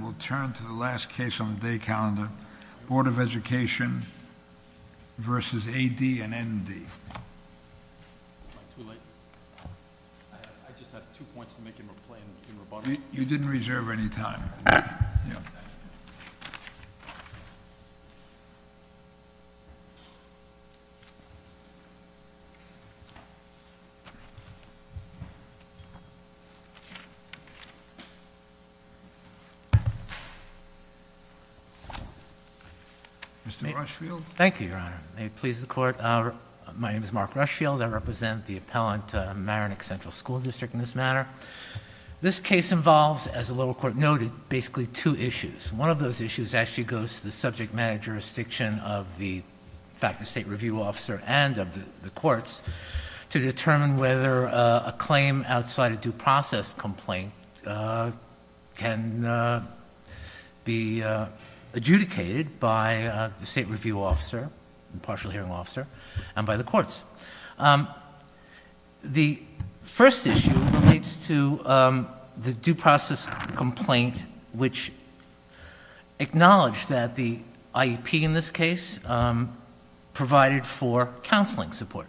on the day calendar, Board of Education versus A.D. and N.D. You didn't reserve any time. Mr. Rushfield. Thank you, Your Honor. May it please the Court, my name is Mark Rushfield. I represent the appellant, Maronick Central School District, in this matter. This case involves, as the lower court noted, basically two issues. One of those issues actually goes to the subject matter jurisdiction of the faculty state review officer and of the courts to determine whether a claim outside a due process complaint can be adjudicated by the state review officer, partial hearing officer, and by the courts. The first issue relates to the due process complaint, which acknowledged that the IEP in this case provided for counseling support.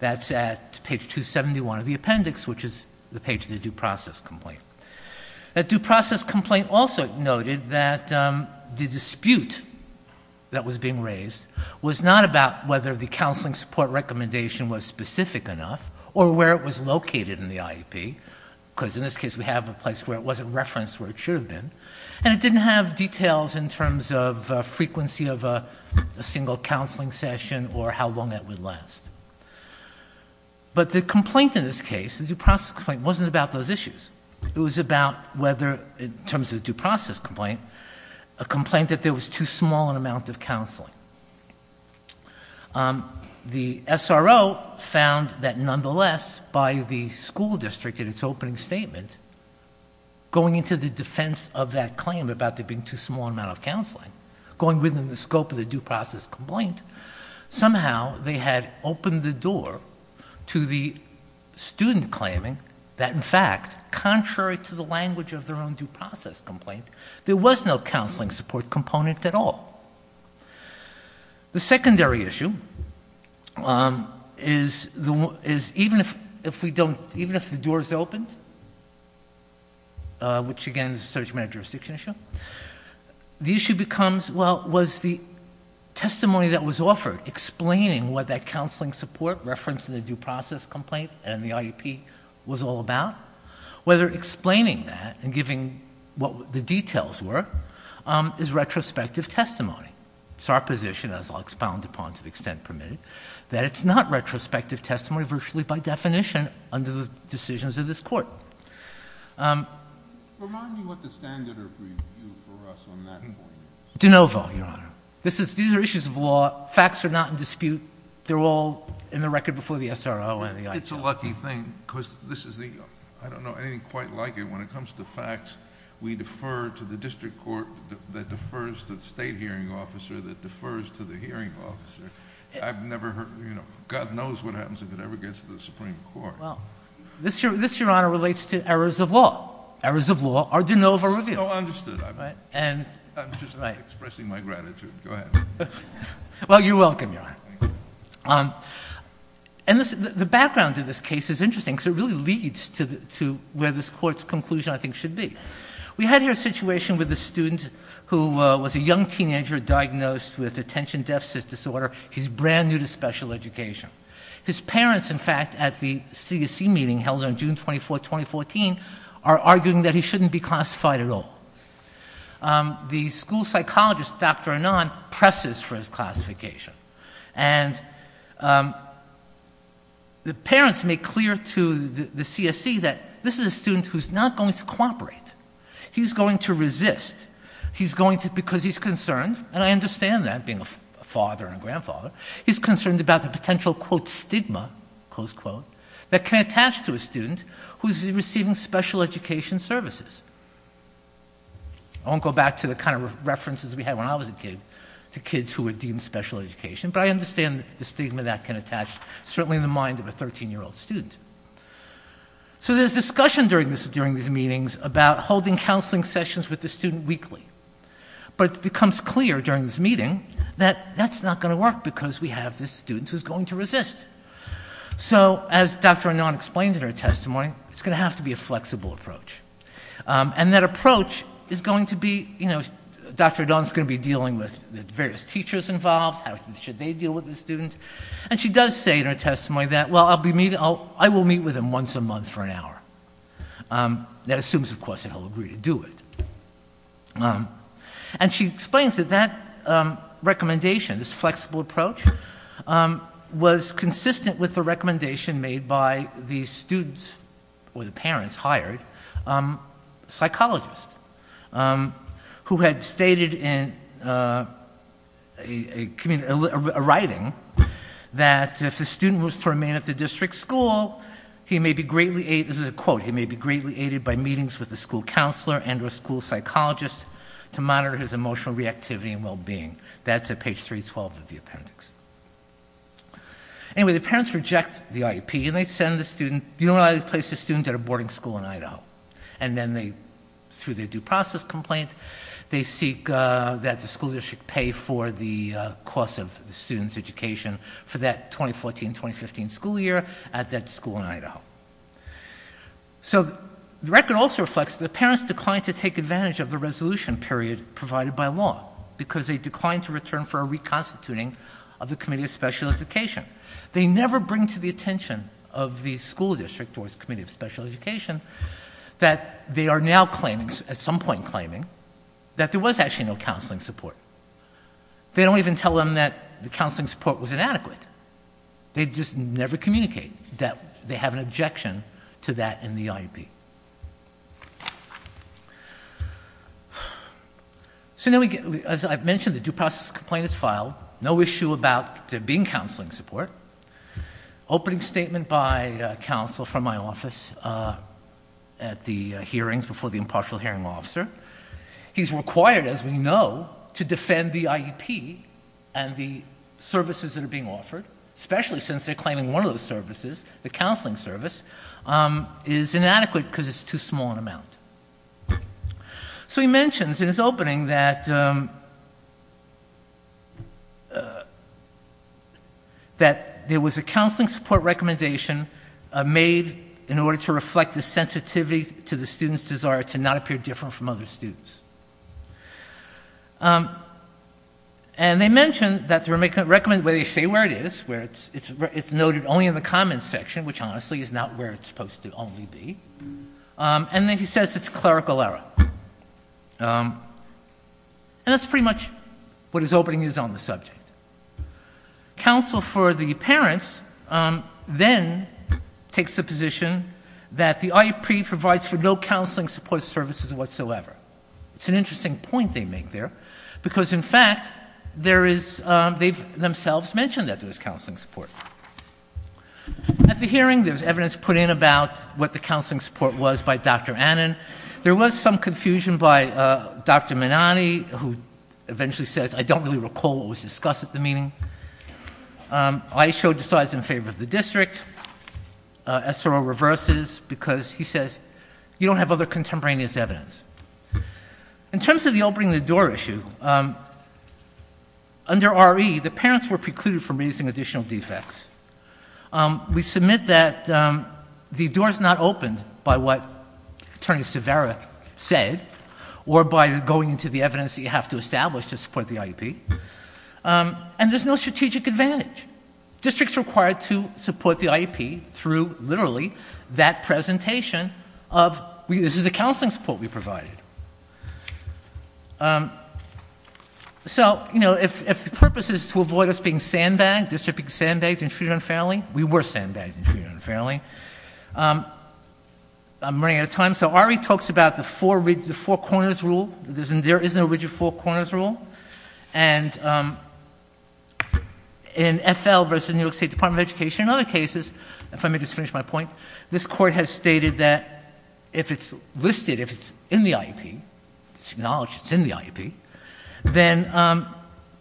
That's at page 271 of the appendix, which is the page of the due process complaint. That due process complaint also noted that the dispute that was being raised was not about whether the counseling support recommendation was specific enough or where it was located in the IEP, because in this case we have a place where it wasn't referenced where it should have been, and it didn't have details in terms of frequency of a single counseling session or how long that would last. But the complaint in this case, the due process complaint, wasn't about those issues. It was about whether, in terms of the due process complaint, a complaint that there was too small an amount of counseling. The SRO found that nonetheless, by the school district in its opening statement, going into the defense of that claim about there being too small an amount of counseling, going within the district that had opened the door to the student claiming that, in fact, contrary to the language of their own due process complaint, there was no counseling support component at all. The secondary issue is even if the doors opened, which, again, is a search matter jurisdiction issue, the issue becomes, well, was the counseling support referenced in the due process complaint and the IEP was all about, whether explaining that and giving what the details were is retrospective testimony. It's our position, as I'll expound upon to the extent permitted, that it's not retrospective testimony, virtually by definition, under the decisions of this court. Remind me what the standard of review for us on that point is. De novo, Your Honor. These are issues of law. Facts are not in dispute. They're all in the record before the SRO and the IEP. It's a lucky thing because this is the, I don't know anything quite like it when it comes to facts. We defer to the district court that defers to the state hearing officer that defers to the hearing officer. I've never heard, you know, God knows what happens if it ever gets to the Supreme Court. Well, this, Your Honor, relates to errors of law. Errors of law are de novo review. Oh, understood. I'm just expressing my gratitude. Go ahead. Well, you're welcome, Your Honor. And the background to this case is interesting because it really leads to where this court's conclusion, I think, should be. We had here a situation with a student who was a young teenager diagnosed with attention deficit disorder. He's brand new to special education. His parents, in fact, at the CSE meeting held on June 24, 2014, are arguing that he shouldn't be classified at all. The school psychologist, Dr. Anand, presses for his classification. And the parents make clear to the CSE that this is a student who's not going to cooperate. He's going to resist. He's going to, because he's concerned, and I understand that being a father and a grandfather, he's concerned about the potential, quote, stigma, close quote, that can attach to a student who's receiving special education services. I won't go back to the kind of references we had when I was a kid to kids who were deemed special education, but I understand the stigma that can attach certainly in the mind of a 13-year-old student. So there's discussion during these meetings about holding counseling sessions with the student weekly. But it becomes clear during this meeting that that's not going to work because we have this student who's going to resist. So as Dr. Anand explained in her testimony, it's going to have to be a flexible approach. And that approach is going to be, you know, Dr. Anand's going to be dealing with the various teachers involved, how should they deal with the student. And she does say in her testimony that, well, I'll be meeting, I will meet with him once a month for an hour. That assumes, of course, that he'll agree to do it. And she explains that that recommendation, this flexible approach, was consistent with the recommendation made by the students, or the parents hired, psychologist, who had stated in a community, a writing, that, you know, if the student was to remain at the district school, he may be greatly aided, this is a quote, he may be greatly aided by meetings with the school counselor and or school psychologist to monitor his emotional reactivity and well-being. That's at page 312 of the appendix. Anyway, the parents reject the IEP and they send the student, you know, they place the student at a boarding school in Idaho. And then they, through their due process complaint, they seek that the school district pay for the cost of the student's education. For that 2014-2015 school year at that school in Idaho. So the record also reflects that the parents declined to take advantage of the resolution period provided by law. Because they declined to return for a reconstituting of the Committee of Special Education. They never bring to the attention of the school district or the Committee of Special Education that they are now claiming, at some point claiming, that there was actually no counseling support. They don't even tell them that the counseling support was inadequate. They just never communicate that they have an objection to that in the IEP. So then we get, as I've mentioned, the due process complaint is filed. No issue about there being counseling support. Opening statement by counsel from my office at the hearings before the impartial hearing officer. He's required, as we know, to defend the IEP and the services that are being offered. Especially since they're claiming one of those services, the counseling service, is inadequate because it's too small an amount. So he mentions in his opening that, that there was a counseling support recommendation made in order to reflect the sensitivity to the student's desire to not appear different from other students. And they mention that they recommend, well, they say where it is. It's noted only in the comments section, which honestly is not where it's supposed to only be. And then he says it's clerical error. And that's pretty much what his opening is on the subject. Counsel for the parents then takes the position that the IEP provides for no counseling support services whatsoever. It's an interesting point they make there because, in fact, they themselves mention that there's counseling support. At the hearing there's evidence put in about what the counseling support was by Dr. Annan. There was some confusion by Dr. Minani, who eventually says, I don't really recall what was discussed at the meeting. Aisho decides in favor of the district. SRO reverses because he says, you don't have other contemporaneous evidence. In terms of the opening the door issue, under RE, the parents were precluded from raising additional defects. We submit that the door is not opened by what Attorney Severa said or by going into the evidence that you have to establish to support the IEP. And there's no strategic advantage. Districts are required to support the IEP through literally that presentation of, this is the counseling support we provided. So, you know, if the purpose is to avoid us being sandbagged, district being sandbagged and treated unfairly, we were sandbagged and treated unfairly. I'm running out of time. So RE talks about the four corners rule. There is no rigid four corners rule. And in FL versus the New York State Department of Education, in other cases, if I may just finish my point, this court has stated that if it's listed, if it's in the IEP, it's acknowledged it's in the IEP, then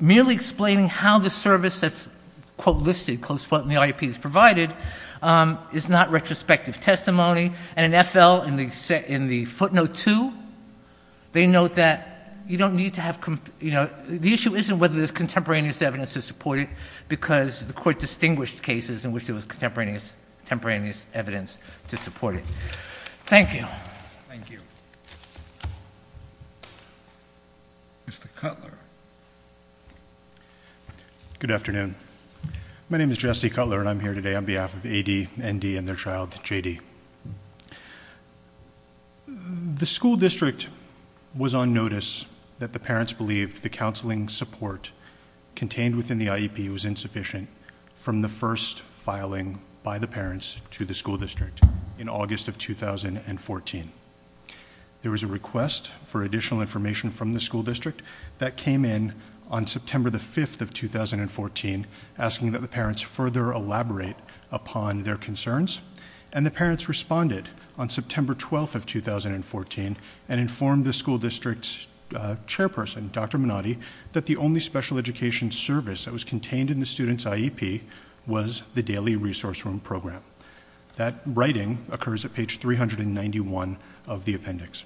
merely explaining how the service that's, quote, listed, close quote, in the IEP is provided is not retrospective testimony. And in FL, in the footnote two, they note that you don't need to have, you know, the issue isn't whether there's contemporaneous evidence to support it because the court distinguished cases in which there was contemporaneous evidence. Thank you. Mr. Cutler. Good afternoon. My name is Jesse Cutler, and I'm here today on behalf of AD, ND, and their child, JD. The school district was on notice that the parents believed the counseling support contained within the IEP was insufficient from the first filing by the parents to the school district in August of 2014. There was a request for additional information from the school district that came in on September the 5th of 2014, asking that the parents further elaborate upon their concerns. And the parents responded on September 12th of 2014 and informed the school district's chairperson, Dr. Minotti, that the only special education service that was contained in the student's IEP was the daily resource room program. That writing occurs at page 391 of the appendix.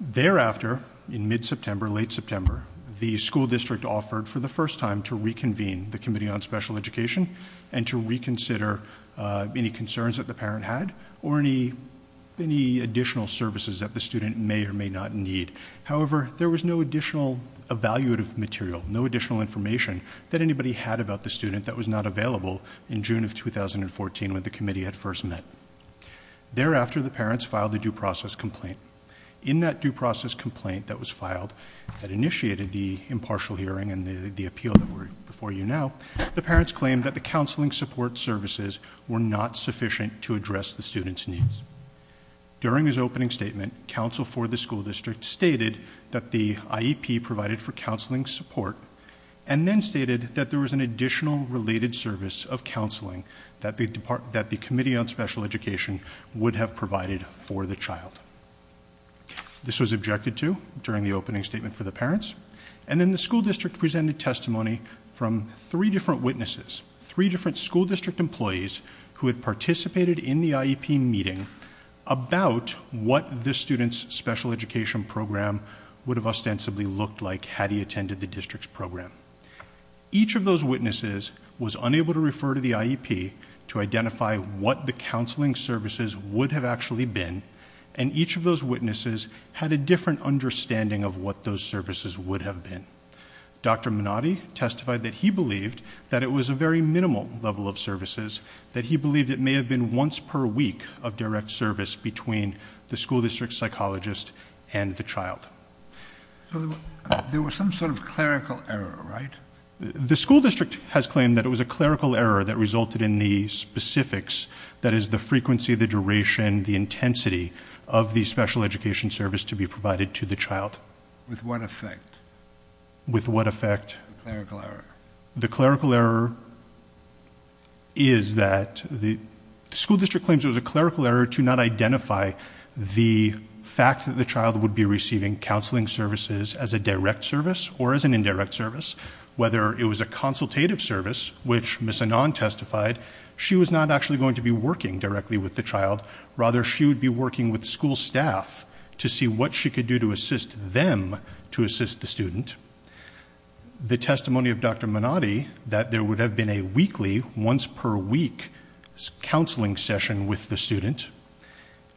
Thereafter, in mid-September, late September, the school district offered for the first time to reconvene the Committee on Special Education and to reconsider any concerns that the parent had or any additional services that the student may or may not need. However, there was no additional evaluative material, no additional information that anybody had about the student that was not available in June of 2014 when the committee had first met. Thereafter, the parents filed a due process complaint. In that due process complaint that was filed that initiated the impartial hearing and the appeal that we're before you now, the parents claimed that the counseling support services were not sufficient to address the student's needs. During his opening statement, counsel for the school district stated that the IEP provided for the related service of counseling that the Committee on Special Education would have provided for the child. This was objected to during the opening statement for the parents. And then the school district presented testimony from three different witnesses, three different school district employees who had participated in the IEP meeting about what the student's special education program would have ostensibly looked like had he attended the district's program. Each of those witnesses was unable to refer to the IEP to identify what the counseling services would have actually been, and each of those witnesses had a different understanding of what those services would have been. Dr. Minotti testified that he believed that it was a very minimal level of services, that he believed it may have been once per week of direct service between the school district psychologist and the child. There was some sort of clerical error, right? The school district has claimed that it was a clerical error that resulted in the specifics, that is the frequency, the duration, the intensity of the special education service to be provided to the child. With what effect? With what effect? The clerical error. The clerical error is that the school district claims it was a clerical error to not identify the fact that the child would be receiving counseling services as a direct service or as an indirect service. Whether it was a consultative service, which Ms. Anon testified, she was not actually going to be working directly with the child. Rather, she would be working with school staff to see what she could do to assist them to assist the student. The testimony of Dr. Minotti, that there would have been a weekly, once per week, counseling session with the student.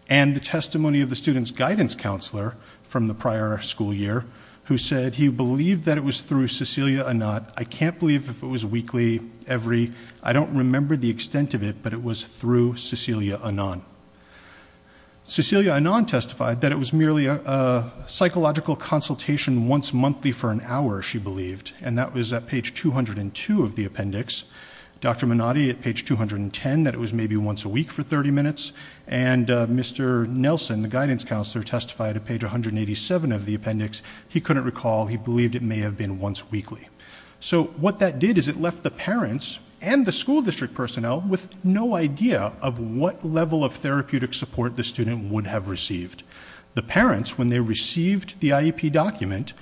And the testimony of the student's guidance counselor from the prior school year, who said he believed that it was through Cecilia Anon. I can't believe if it was weekly, every, I don't remember the extent of it, but it was through Cecilia Anon. Cecilia Anon testified that it was merely a psychological consultation once monthly for an hour, she believed. And that was at page 202 of the appendix. Dr. Minotti at page 210, that it was maybe once a week for 30 minutes. And Mr. Nelson, the guidance counselor, testified at page 187 of the appendix. He couldn't recall, he believed it may have been once weekly. So what that did is it left the parents and the school district personnel with no idea of what level of therapeutic support the student would have received. The parents, when they received the IEP document,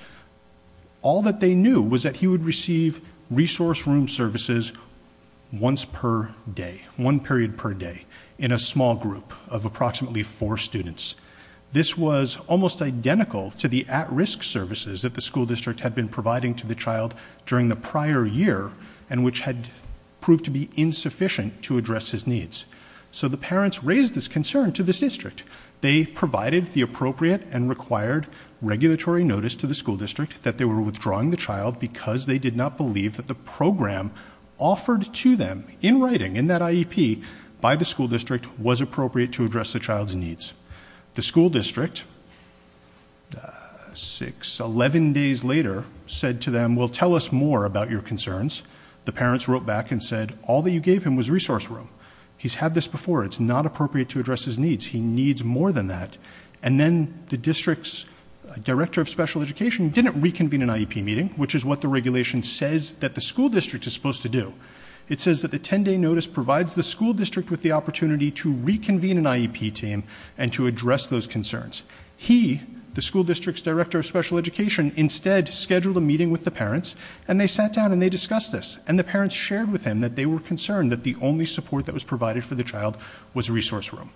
All that they knew was that he would receive resource room services once per day, one period per day, in a small group of approximately four students. This was almost identical to the at-risk services that the school district had been providing to the child during the prior year, and which had proved to be insufficient to address his needs. So the parents raised this concern to this district. They provided the appropriate and required regulatory notice to the school district that they were withdrawing the child because they did not believe that the program offered to them in writing, in that IEP, by the school district was appropriate to address the child's needs. The school district, six, 11 days later, said to them, well, tell us more about your concerns. The parents wrote back and said, all that you gave him was resource room. He's had this before. It's not appropriate to address his needs. He needs more than that. And then the district's director of special education didn't reconvene an IEP meeting, which is what the regulation says that the school district is supposed to do. It says that the 10-day notice provides the school district with the opportunity to reconvene an IEP team and to address those concerns. He, the school district's director of special education, instead scheduled a meeting with the parents, and they sat down and they discussed this. And the parents shared with him that they were concerned that the only support that was provided for the child was resource room.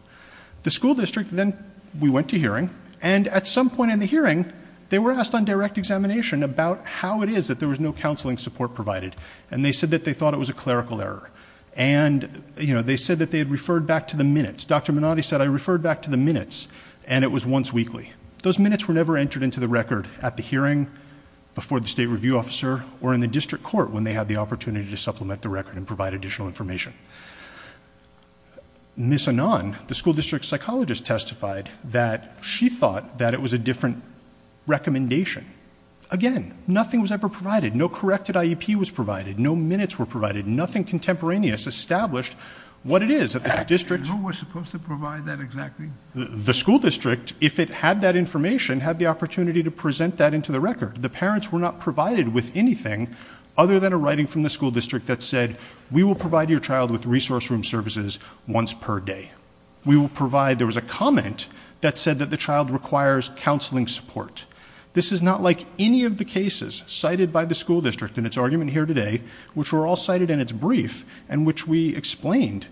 The school district then, we went to hearing, and at some point in the hearing, they were asked on direct examination about how it is that there was no counseling support provided. And they said that they thought it was a clerical error. And they said that they had referred back to the minutes. Dr. Minotti said, I referred back to the minutes, and it was once weekly. Those minutes were never entered into the record at the hearing, before the state review officer, or in the district court when they had the opportunity to supplement the record and provide additional information. Ms. Anand, the school district psychologist, testified that she thought that it was a different recommendation. Again, nothing was ever provided. No corrected IEP was provided. No minutes were provided. Nothing contemporaneous established what it is that the district- Who was supposed to provide that exactly? The school district, if it had that information, had the opportunity to present that into the record. The parents were not provided with anything other than a writing from the school district that said, we will provide your child with resource room services once per day. We will provide- there was a comment that said that the child requires counseling support. This is not like any of the cases cited by the school district in its argument here today, which were all cited in its brief, and which we explained.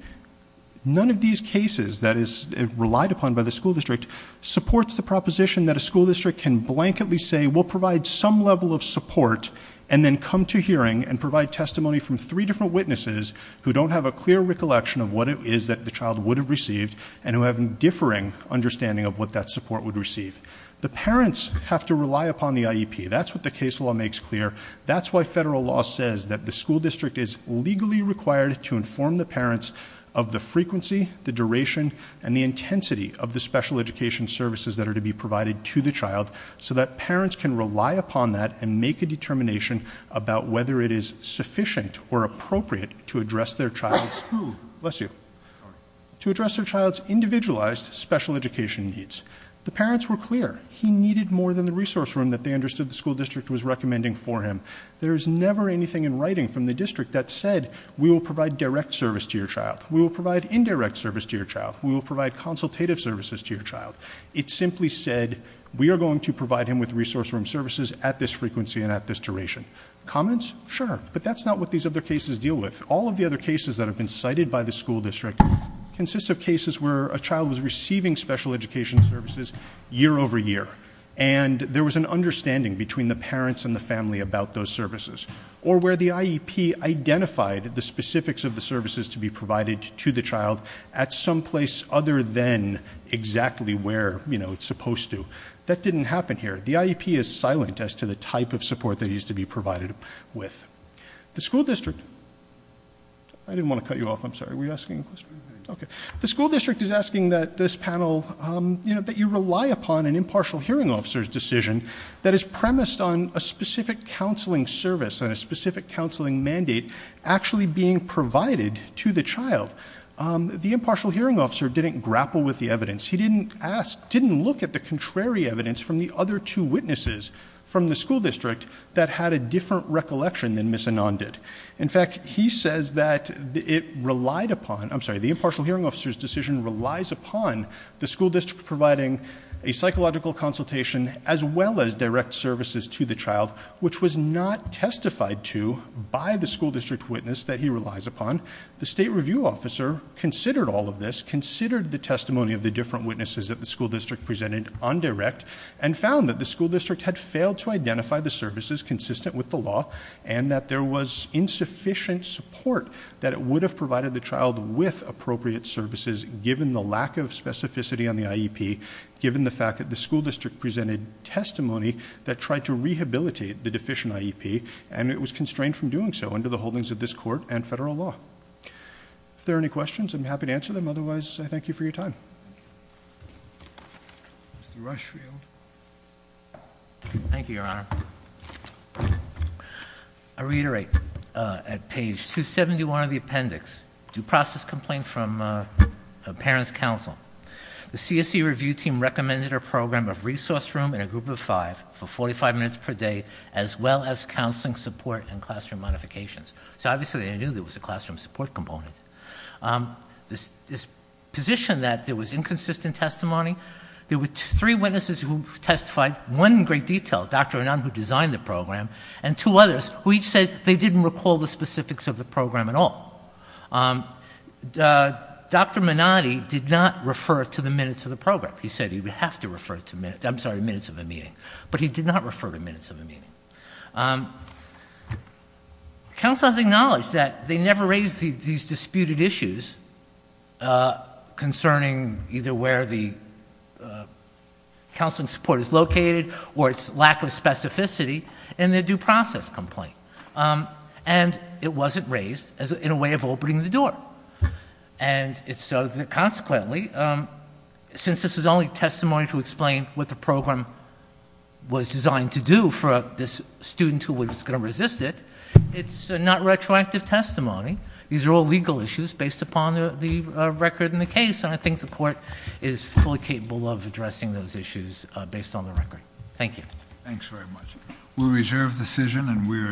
None of these cases that is relied upon by the school district supports the proposition that a school district can blanketly say, we'll provide some level of support, and then come to hearing and provide testimony from three different witnesses who don't have a clear recollection of what it is that the child would have received, and who have a differing understanding of what that support would receive. The parents have to rely upon the IEP. That's what the case law makes clear. That's why federal law says that the school district is legally required to inform the parents of the frequency, the duration, and the intensity of the special education services that are to be provided to the child, so that parents can rely upon that and make a determination about whether it is sufficient or appropriate to address their child's- Bless you. To address their child's individualized special education needs. The parents were clear. He needed more than the resource room that they understood the school district was recommending for him. There is never anything in writing from the district that said, we will provide direct service to your child. We will provide indirect service to your child. We will provide consultative services to your child. It simply said, we are going to provide him with resource room services at this frequency and at this duration. Comments? Sure. But that's not what these other cases deal with. All of the other cases that have been cited by the school district consist of cases where a child was receiving special education services year over year. And there was an understanding between the parents and the family about those services. Or where the IEP identified the specifics of the services to be provided to the child at some place other than exactly where it's supposed to. That didn't happen here. The IEP is silent as to the type of support that needs to be provided with. The school district, I didn't want to cut you off, I'm sorry. Were you asking a question? Okay. The school district is asking that this panel, that you rely upon an impartial hearing officer's decision that is premised on a specific counseling service. And a specific counseling mandate actually being provided to the child. The impartial hearing officer didn't grapple with the evidence. He didn't look at the contrary evidence from the other two witnesses from the school district that had a different recollection than Ms. Anand did. In fact, he says that it relied upon, I'm sorry, the impartial hearing officer's decision relies upon the school district providing a psychological consultation as well as direct services to the child. Which was not testified to by the school district witness that he relies upon. The state review officer considered all of this, considered the testimony of the different witnesses that the school district presented on direct. And found that the school district had failed to identify the services consistent with the law. And that there was insufficient support that it would have provided the child with appropriate services, given the lack of specificity on the IEP, given the fact that the school district presented testimony that tried to rehabilitate the deficient IEP. And it was constrained from doing so under the holdings of this court and federal law. If there are any questions, I'm happy to answer them. Otherwise, I thank you for your time. Mr. Rushfield. Thank you, Your Honor. I reiterate at page 271 of the appendix, due process complaint from parents' counsel. The CSE review team recommended a program of resource room in a group of five for 45 minutes per day, as well as counseling support and classroom modifications. So obviously they knew there was a classroom support component. This position that there was inconsistent testimony, there were three witnesses who testified. One in great detail, Dr. Anand, who designed the program. And two others who each said they didn't recall the specifics of the program at all. Dr. Manati did not refer to the minutes of the program. He said he would have to refer to minutes of the meeting. But he did not refer to minutes of the meeting. Counsel has acknowledged that they never raised these disputed issues concerning either where the counseling support is located or its lack of specificity in the due process complaint. And it wasn't raised in a way of opening the door. And so consequently, since this is only testimony to explain what the program was designed to do for this student who was going to resist it, it's not retroactive testimony. These are all legal issues based upon the record in the case. And I think the court is fully capable of addressing those issues based on the record. Thank you. Thanks very much. We'll reserve the decision and we're adjourned.